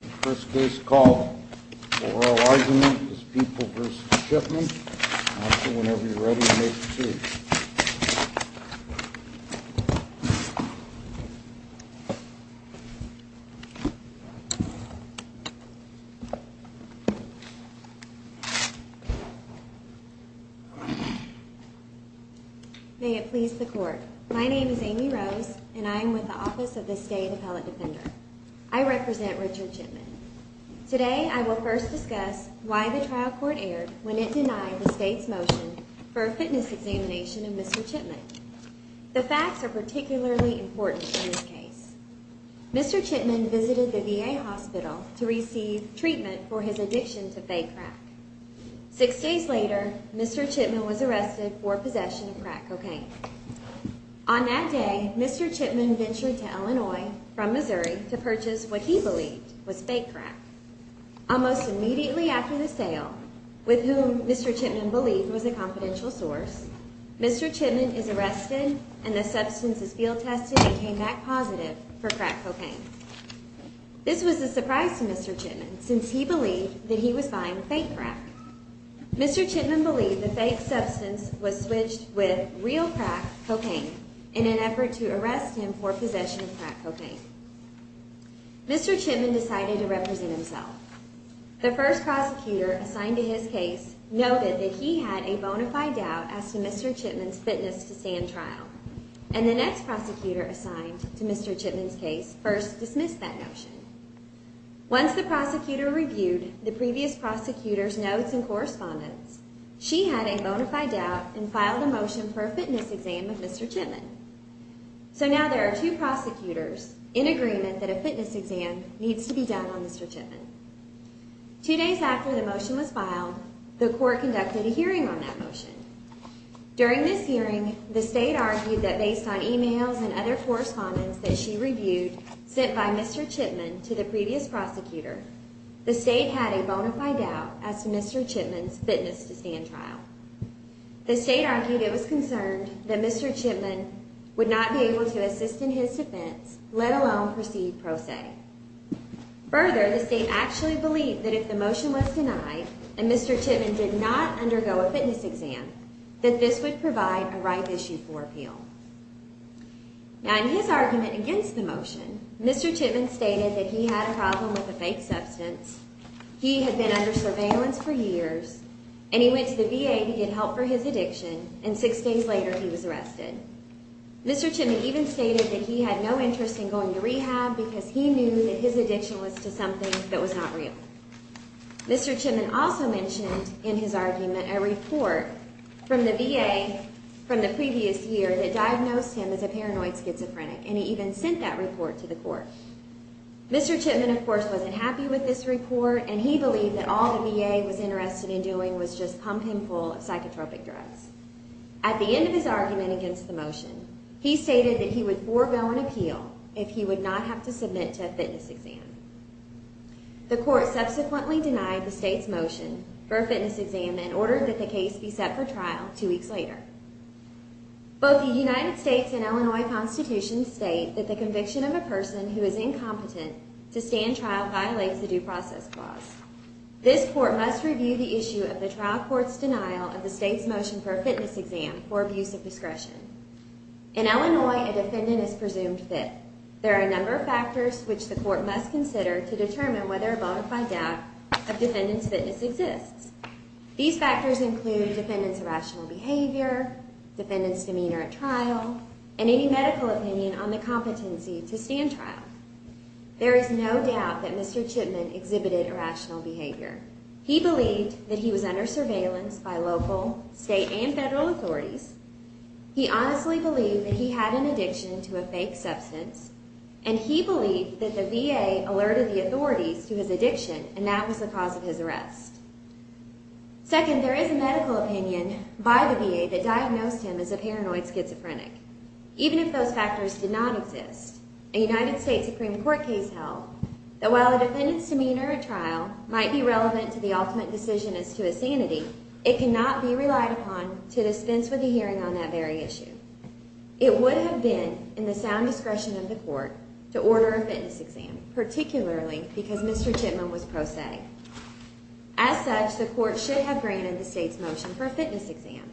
The first case called for oral argument is People v. Chipman. I'll see whenever you're ready to make the case. May it please the court. My name is Amy Rose, and I am with the Office of the State Appellate Defender. I represent Richard Chipman. Today I will first discuss why the trial court erred when it denied the state's motion for a fitness examination of Mr. Chipman. The facts are particularly important in this case. Mr. Chipman visited the VA hospital to receive treatment for his addiction to fake crack. Six days later, Mr. Chipman was arrested for possession of crack cocaine. On that day, Mr. Chipman ventured to Illinois from Missouri to purchase what he believed was fake crack. Almost immediately after the sale, with whom Mr. Chipman believed was a confidential source, Mr. Chipman is arrested and the substance is field tested and came back positive for crack cocaine. This was a surprise to Mr. Chipman, since he believed that he was buying fake crack. Mr. Chipman believed the fake substance was switched with real crack cocaine in an effort to arrest him for possession of crack cocaine. Mr. Chipman decided to represent himself. The first prosecutor assigned to his case noted that he had a bona fide doubt as to Mr. Chipman's fitness to stand trial, and the next prosecutor assigned to Mr. Chipman's case first dismissed that notion. Once the prosecutor reviewed the previous prosecutor's notes and correspondence, she had a bona fide doubt and filed a motion for a fitness exam of Mr. Chipman. So now there are two prosecutors in agreement that a fitness exam needs to be done on Mr. Chipman. Two days after the motion was filed, the court conducted a hearing on that motion. During this hearing, the state argued that based on emails and other correspondence that she reviewed sent by Mr. Chipman to the previous prosecutor, the state had a bona fide doubt as to Mr. Chipman's fitness to stand trial. The state argued it was concerned that Mr. Chipman would not be able to assist in his defense, let alone proceed pro se. Further, the state actually believed that if the motion was denied and Mr. Chipman did not undergo a fitness exam, that this would provide a right issue for appeal. Now in his argument against the motion, Mr. Chipman stated that he had a problem with a fake substance, he had been under surveillance for years, and he went to the VA to get help for his addiction, and six days later he was arrested. Mr. Chipman even stated that he had no interest in going to rehab because he knew that his addiction was to something that was not real. Mr. Chipman also mentioned in his argument a report from the VA from the previous year that diagnosed him as a paranoid schizophrenic, and he even sent that report to the court. Mr. Chipman, of course, wasn't happy with this report, and he believed that all the VA was interested in doing was just pump him full of psychotropic drugs. At the end of his argument against the motion, he stated that he would forego an appeal if he would not have to submit to a fitness exam. The court subsequently denied the state's motion for a fitness exam and ordered that the case be set for trial two weeks later. Both the United States and Illinois constitutions state that the conviction of a person who is incompetent to stand trial violates the Due Process Clause. This court must review the issue of the trial court's denial of the state's motion for a fitness exam for abuse of discretion. In Illinois, a defendant is presumed fit. There are a number of factors which the court must consider to determine whether a bonafide doubt of defendant's fitness exists. These factors include defendant's irrational behavior, defendant's demeanor at trial, and any medical opinion on the competency to stand trial. There is no doubt that Mr. Chipman exhibited irrational behavior. He believed that he was under surveillance by local, state, and federal authorities. He honestly believed that he had an addiction to a fake substance, and he believed that the VA alerted the authorities to his addiction, and that was the cause of his arrest. Second, there is a medical opinion by the VA that diagnosed him as a paranoid schizophrenic. Even if those factors did not exist, a United States Supreme Court case held that while a defendant's demeanor at trial might be relevant to the ultimate decision as to his sanity, it cannot be relied upon to dispense with a hearing on that very issue. It would have been in the sound discretion of the court to order a fitness exam, particularly because Mr. Chipman was prosaic. As such, the court should have granted the state's motion for a fitness exam.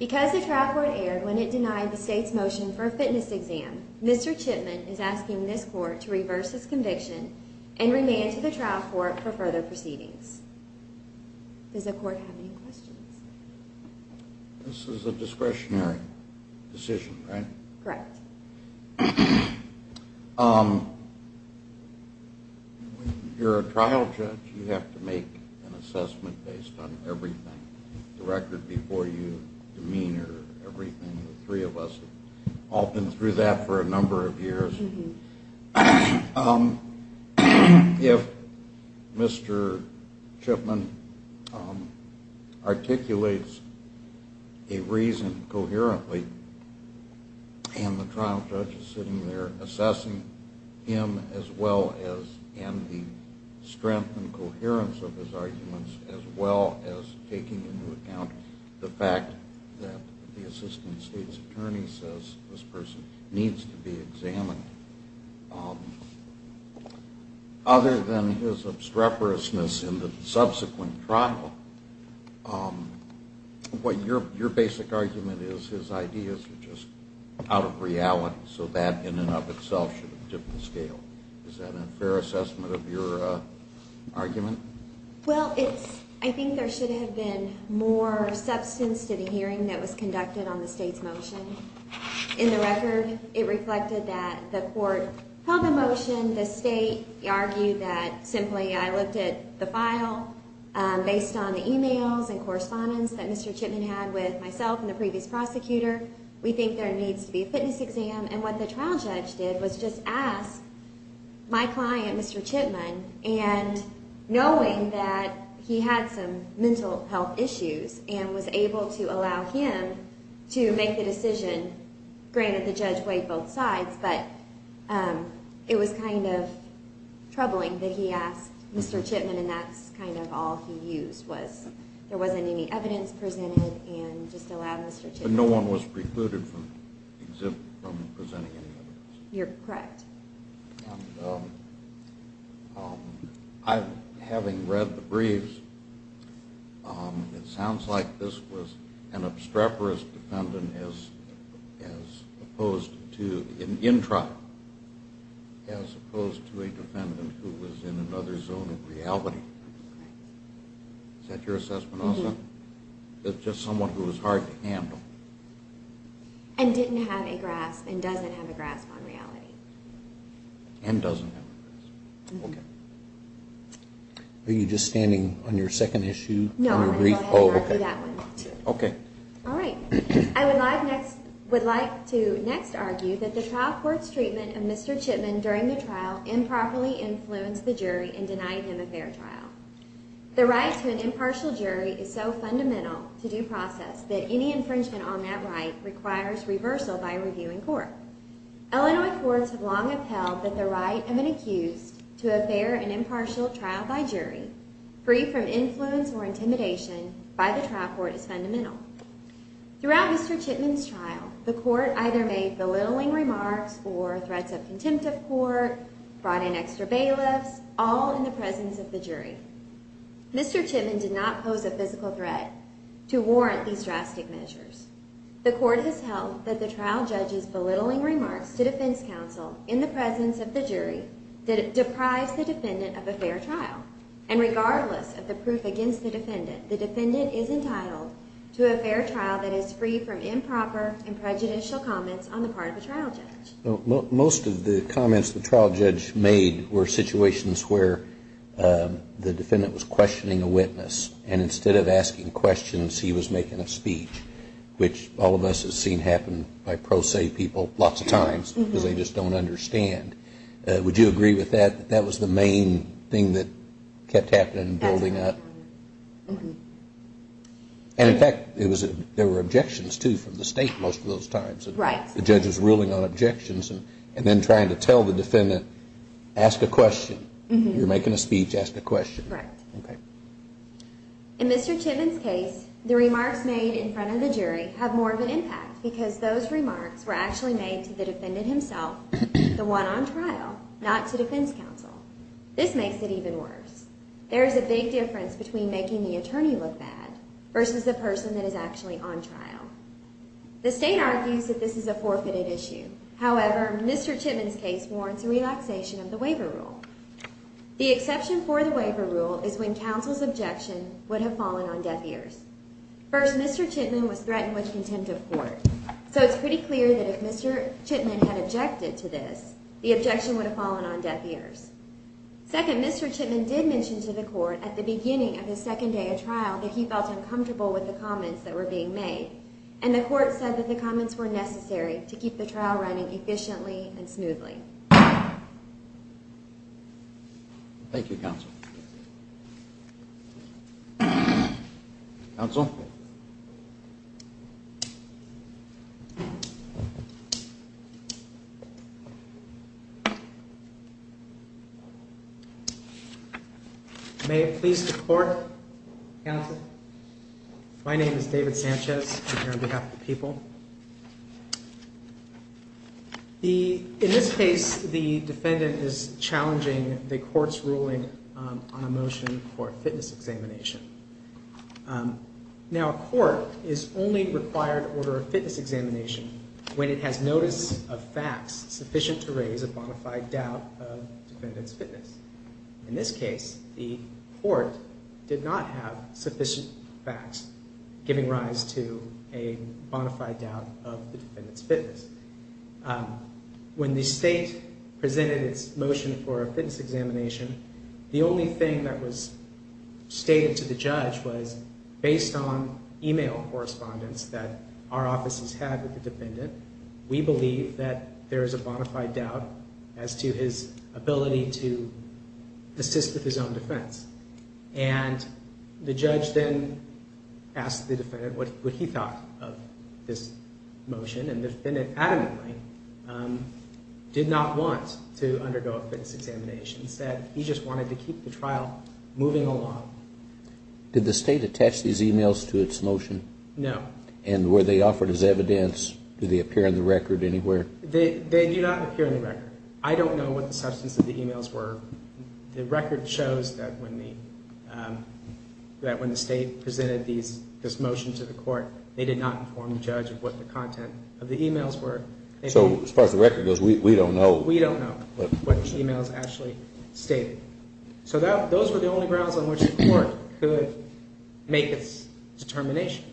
Because the trial court erred when it denied the state's motion for a fitness exam, Mr. Chipman is asking this court to reverse his conviction and remand to the trial court for further proceedings. Does the court have any questions? This is a discretionary decision, right? Correct. You're a trial judge. You have to make an assessment based on everything, the record before you, demeanor, everything. The three of us have all been through that for a number of years. If Mr. Chipman articulates a reason coherently and the trial judge is sitting there assessing him as well as the strength and coherence of his arguments, as well as taking into account the fact that the assistant state's attorney says this person needs to be examined, other than his obstreperousness in the subsequent trial, what your basic argument is, his ideas are just out of reality so that in and of itself should have tipped the scale. Is that a fair assessment of your argument? Well, I think there should have been more substance to the hearing that was conducted on the state's motion. In the record, it reflected that the court held the motion. The state argued that simply I looked at the file based on the emails and correspondence that Mr. Chipman had with myself and the previous prosecutor. We think there needs to be a fitness exam. And what the trial judge did was just ask my client, Mr. Chipman, and knowing that he had some mental health issues and was able to allow him to make the decision, granted the judge weighed both sides, but it was kind of troubling that he asked Mr. Chipman and that's kind of all he used was there wasn't any evidence presented and just allowed Mr. Chipman. But no one was precluded from presenting any evidence. You're correct. Having read the briefs, it sounds like this was an obstreperous defendant as opposed to, in trial, as opposed to a defendant who was in another zone of reality. Is that your assessment also? Or was it just someone who was hard to handle? And didn't have a grasp and doesn't have a grasp on reality. And doesn't have a grasp. Okay. Are you just standing on your second issue? No, I'm going to go ahead and argue that one. Okay. All right. I would like to next argue that the trial court's treatment of Mr. Chipman during the trial improperly influenced the jury and denied him a fair trial. The right to an impartial jury is so fundamental to due process that any infringement on that right requires reversal by a reviewing court. Illinois courts have long upheld that the right of an accused to a fair and impartial trial by jury, free from influence or intimidation by the trial court, is fundamental. Throughout Mr. Chipman's trial, the court either made belittling remarks or threats of contempt of court, brought in extra bailiffs, all in the presence of the jury. Mr. Chipman did not pose a physical threat to warrant these drastic measures. The court has held that the trial judge's belittling remarks to defense counsel in the presence of the jury deprives the defendant of a fair trial. And regardless of the proof against the defendant, the defendant is entitled to a fair trial that is free from improper and prejudicial comments on the part of the trial judge. Most of the comments the trial judge made were situations where the defendant was questioning a witness, and instead of asking questions, he was making a speech, which all of us have seen happen by pro se people lots of times because they just don't understand. Would you agree with that, that that was the main thing that kept happening and building up? And in fact, there were objections too from the state most of those times. Right. The judge was ruling on objections and then trying to tell the defendant, ask a question. You're making a speech, ask a question. Correct. Okay. In Mr. Chipman's case, the remarks made in front of the jury have more of an impact because those remarks were actually made to the defendant himself, the one on trial, not to defense counsel. This makes it even worse. There is a big difference between making the attorney look bad versus the person that is actually on trial. The state argues that this is a forfeited issue. However, Mr. Chipman's case warrants a relaxation of the waiver rule. The exception for the waiver rule is when counsel's objection would have fallen on deaf ears. First, Mr. Chipman was threatened with contempt of court. So it's pretty clear that if Mr. Chipman had objected to this, the objection would have fallen on deaf ears. Second, Mr. Chipman did mention to the court at the beginning of his second day of trial that he felt uncomfortable with the comments that were being made. And the court said that the comments were necessary to keep the trial running efficiently and smoothly. Thank you, counsel. Counsel? May it please the court, counsel? My name is David Sanchez. I'm here on behalf of the people. In this case, the defendant is challenging the court's ruling on a motion for a fitness examination. Now, a court is only required to order a fitness examination when it has notice of facts sufficient to raise a bona fide doubt of the defendant. In this case, the court did not have sufficient facts giving rise to a bona fide doubt of the defendant's fitness. When the state presented its motion for a fitness examination, the only thing that was stated to the judge was, based on email correspondence that our offices had with the defendant, we believe that there is a bona fide doubt as to his ability to assist with his own defense. And the judge then asked the defendant what he thought of this motion, and the defendant adamantly did not want to undergo a fitness examination. Instead, he just wanted to keep the trial moving along. Did the state attach these emails to its motion? No. And were they offered as evidence? Do they appear in the record anywhere? They do not appear in the record. I don't know what the substance of the emails were. The record shows that when the state presented this motion to the court, they did not inform the judge of what the content of the emails were. So, as far as the record goes, we don't know. We don't know what the emails actually stated. So those were the only grounds on which the court could make its determination.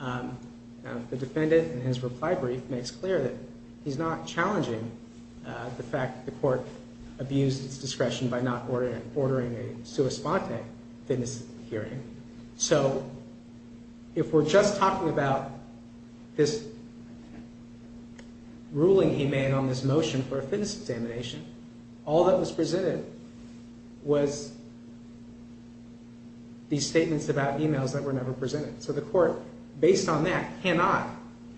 The defendant, in his reply brief, makes clear that he's not challenging the fact that the court abused its discretion by not ordering a sua sponte fitness hearing. So, if we're just talking about this ruling he made on this motion for a fitness examination, all that was presented was these statements about emails that were never presented. So the court, based on that, cannot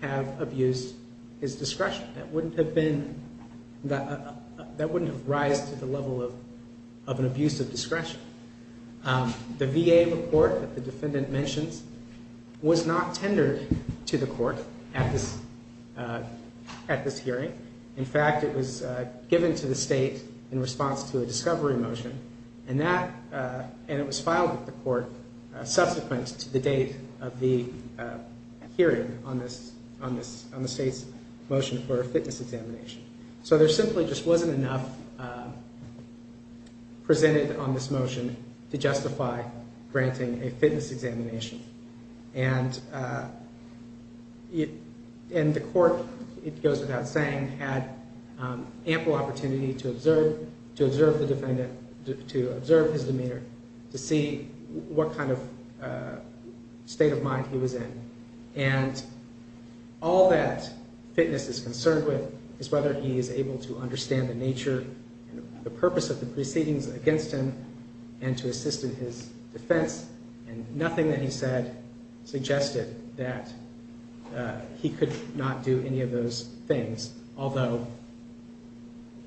have abused his discretion. That wouldn't have been, that wouldn't have rised to the level of an abuse of discretion. The VA report that the defendant mentions was not tendered to the court at this hearing. In fact, it was given to the state in response to a discovery motion, and it was filed with the court subsequent to the date of the hearing on the state's motion for a fitness examination. So there simply just wasn't enough presented on this motion to justify granting a fitness examination. And the court, it goes without saying, had ample opportunity to observe the defendant, to observe his demeanor, to see what kind of state of mind he was in. And all that fitness is concerned with is whether he is able to understand the nature and the purpose of the proceedings against him and to assist in his defense. And nothing that he said suggested that he could not do any of those things, although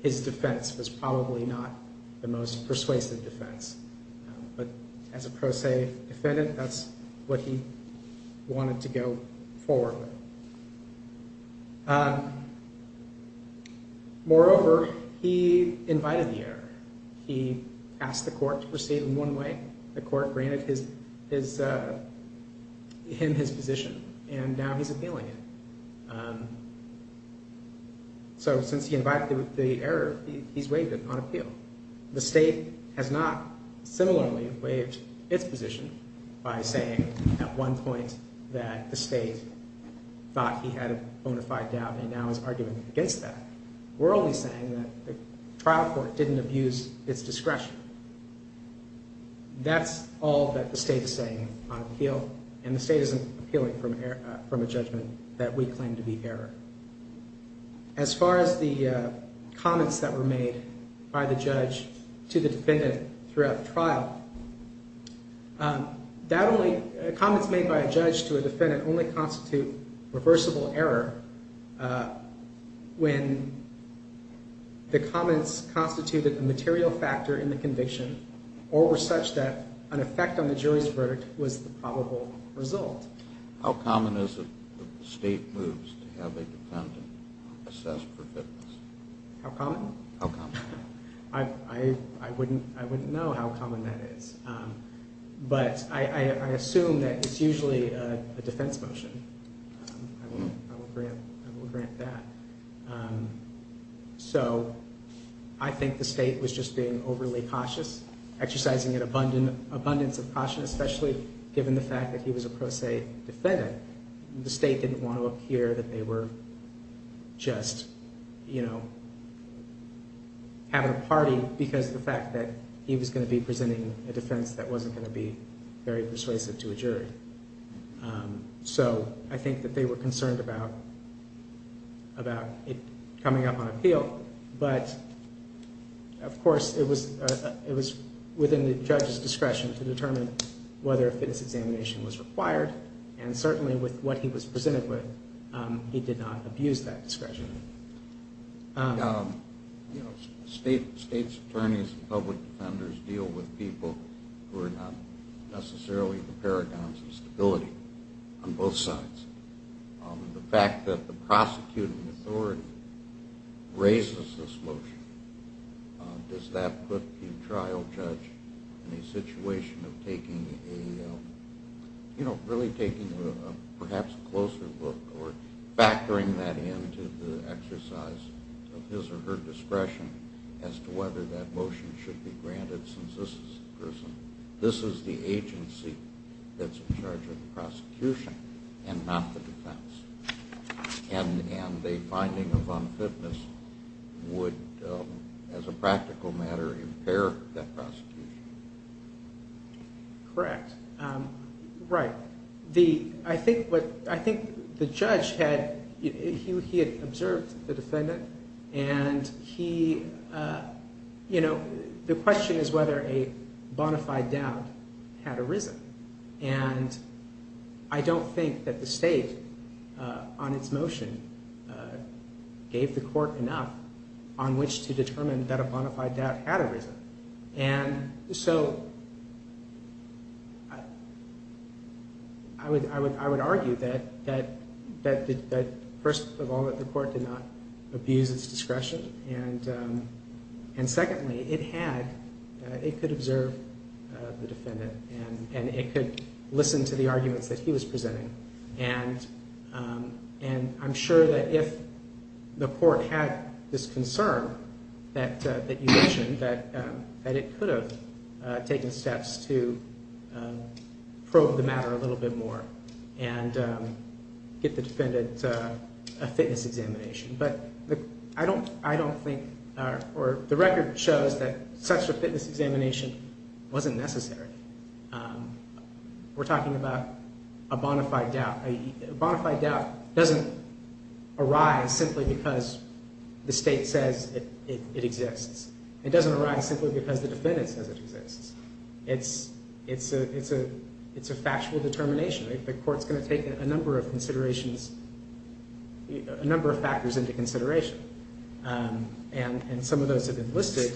his defense was probably not the most persuasive defense. But as a pro se defendant, that's what he wanted to go forward with. Moreover, he invited the error. He asked the court to proceed in one way. The court granted him his position, and now he's appealing it. So since he invited the error, he's waived it on appeal. The state has not similarly waived its position by saying at one point that the state thought he had a bona fide doubt and now is arguing against that. We're only saying that the trial court didn't abuse its discretion. That's all that the state is saying on appeal, and the state isn't appealing from a judgment that we claim to be error. As far as the comments that were made by the judge to the defendant throughout the trial, comments made by a judge to a defendant only constitute reversible error when the comments constituted a material factor in the conviction or were such that an effect on the jury's verdict was the probable result. How common is it that the state moves to have a defendant assessed for fitness? How common? How common? I wouldn't know how common that is, but I assume that it's usually a defense motion. I will grant that. So I think the state was just being overly cautious, exercising an abundance of caution, especially given the fact that he was a pro se defendant. The state didn't want to appear that they were just having a party because of the fact that he was going to be presenting a defense that wasn't going to be very persuasive to a jury. So I think that they were concerned about it coming up on appeal, but of course it was within the judge's discretion to determine whether a fitness examination was required, and certainly with what he was presented with, he did not abuse that discretion. State's attorneys and public defenders deal with people who are not necessarily the paragons of stability on both sides. The fact that the prosecuting authority raises this motion, does that put the trial judge in a situation of taking a, you know, of his or her discretion as to whether that motion should be granted since this is the person, this is the agency that's in charge of the prosecution and not the defense, and a finding of unfitness would, as a practical matter, impair that prosecution? Correct. Right. I think the judge had, he had observed the defendant, and he, you know, the question is whether a bona fide doubt had arisen, and I don't think that the state, on its motion, gave the court enough on which to determine that a bona fide doubt had arisen. And so I would argue that, first of all, that the court did not abuse its discretion, and secondly, it had, it could observe the defendant, and it could listen to the arguments that he was presenting, and I'm sure that if the court had this concern that you mentioned, that it could have taken steps to probe the matter a little bit more and get the defendant a fitness examination. But I don't think, or the record shows that such a fitness examination wasn't necessary. We're talking about a bona fide doubt. A bona fide doubt doesn't arise simply because the state says it exists. It doesn't arise simply because the defendant says it exists. It's a factual determination. The court's going to take a number of considerations, a number of factors into consideration, and some of those have been listed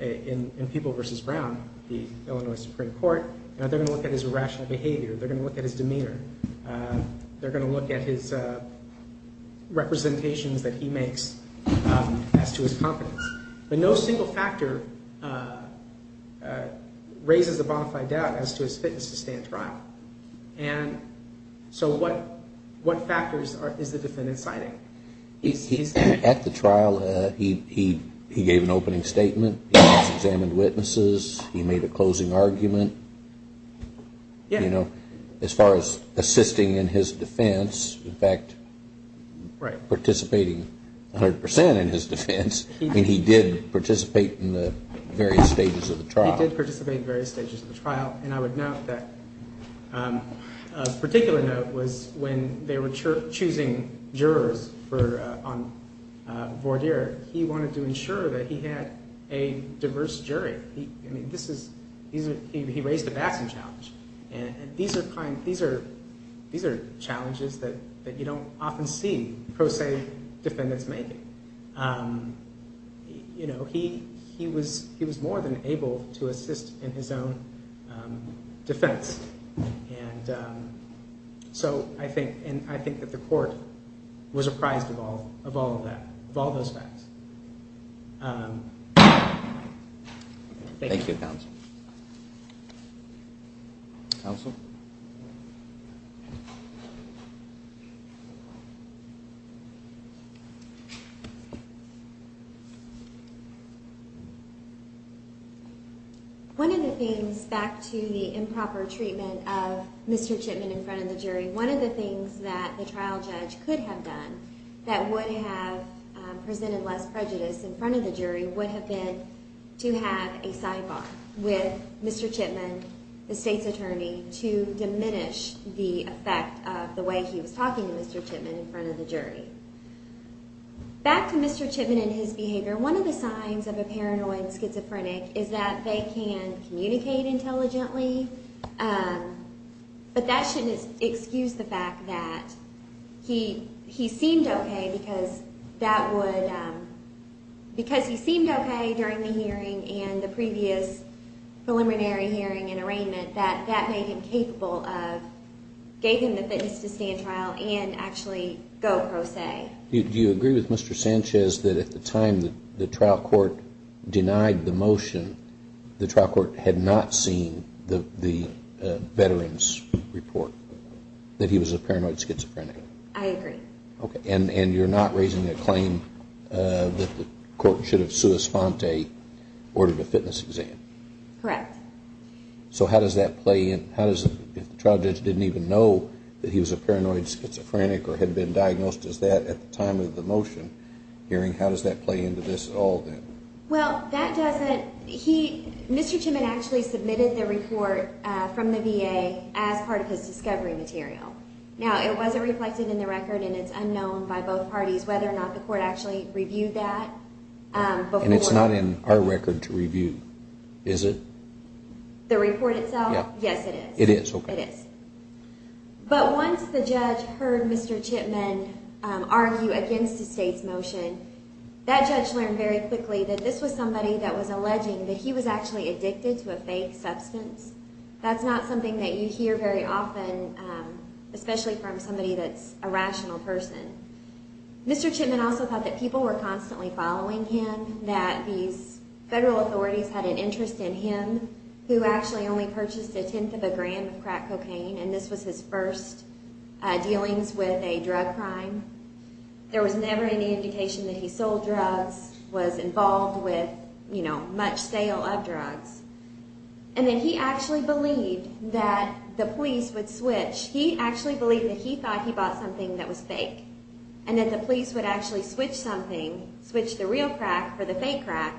in People v. Brown, the Illinois Supreme Court, and they're going to look at his irrational behavior. They're going to look at his demeanor. They're going to look at his representations that he makes as to his competence. But no single factor raises a bona fide doubt as to his fitness to stay in trial. And so what factors is the defendant citing? At the trial, he gave an opening statement. He examined witnesses. He made a closing argument. As far as assisting in his defense, in fact, participating 100 percent in his defense, I mean, he did participate in the various stages of the trial. He did participate in various stages of the trial. And I would note that a particular note was when they were choosing jurors on voir dire, he wanted to ensure that he had a diverse jury. I mean, he raised a Batson challenge, and these are challenges that you don't often see pro se defendants making. He was more than able to assist in his own defense. So I think that the court was apprised of all of that, of all those facts. Thank you, Counsel. Counsel? One of the things, back to the improper treatment of Mr. Chipman in front of the jury, one of the things that the trial judge could have done that would have presented less prejudice in front of the jury would have been to have a sidebar with Mr. Chipman, the state's attorney, to diminish the effect of the way he was talking to Mr. Chipman in front of the jury. Back to Mr. Chipman and his behavior, one of the signs of a paranoid schizophrenic is that they can communicate intelligently, but that shouldn't excuse the fact that he seemed okay because that would, because he seemed okay during the hearing and the previous preliminary hearing and arraignment, that that made him capable of, gave him the fitness to stand trial and actually go pro se. Do you agree with Mr. Sanchez that at the time the trial court denied the motion, the trial court had not seen the veteran's report, that he was a paranoid schizophrenic? I agree. Okay, and you're not raising the claim that the court should have, sua sponte, ordered a fitness exam? Correct. So how does that play in? How does, if the trial judge didn't even know that he was a paranoid schizophrenic or had been diagnosed as that at the time of the motion hearing, how does that play into this at all then? Well, that doesn't, he, Mr. Chipman actually submitted the report from the VA as part of his discovery material. Now, it wasn't reflected in the record and it's unknown by both parties whether or not the court actually reviewed that before. And it's not in our record to review, is it? The report itself? Yeah. Yes, it is. It is, okay. It is. But once the judge heard Mr. Chipman argue against the state's motion, that judge learned very quickly that this was somebody that was alleging that he was actually addicted to a fake substance. That's not something that you hear very often, especially from somebody that's a rational person. Mr. Chipman also thought that people were constantly following him, that these federal authorities had an interest in him, who actually only purchased a tenth of a gram of crack cocaine, and this was his first dealings with a drug crime. There was never any indication that he sold drugs, was involved with, you know, much sale of drugs. And then he actually believed that the police would switch. He actually believed that he thought he bought something that was fake, and that the police would actually switch something, switch the real crack for the fake crack,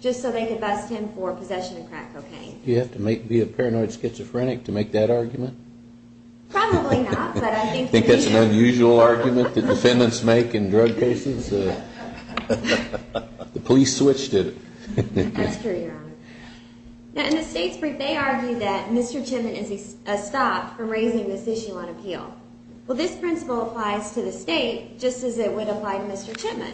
just so they could bust him for possession of crack cocaine. Do you have to be a paranoid schizophrenic to make that argument? Probably not, but I think... You think that's an unusual argument that defendants make in drug cases? The police switched it. That's true, Your Honor. Now, in the state's brief, they argue that Mr. Chipman is a stop from raising this issue on appeal. Well, this principle applies to the state, just as it would apply to Mr. Chipman.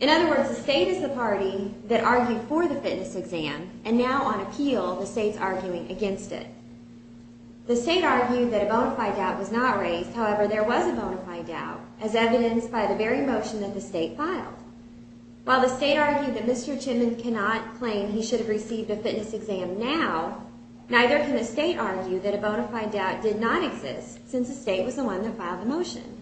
In other words, the state is the party that argued for the fitness exam, and now, on appeal, the state's arguing against it. The state argued that a bona fide doubt was not raised. However, there was a bona fide doubt, as evidenced by the very motion that the state filed. While the state argued that Mr. Chipman cannot claim that he should have received a fitness exam now, neither can the state argue that a bona fide doubt did not exist, since the state was the one that filed the motion.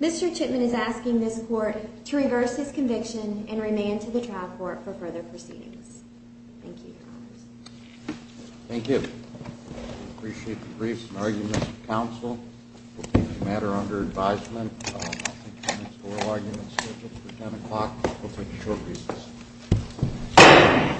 Mr. Chipman is asking this court to reverse his conviction and remand to the trial court for further proceedings. Thank you, Your Honor. Thank you. I appreciate the briefs and arguments of counsel. We'll keep the matter under advisement. I think the next oral argument is scheduled for 10 o'clock. We'll take a short recess. Thank you.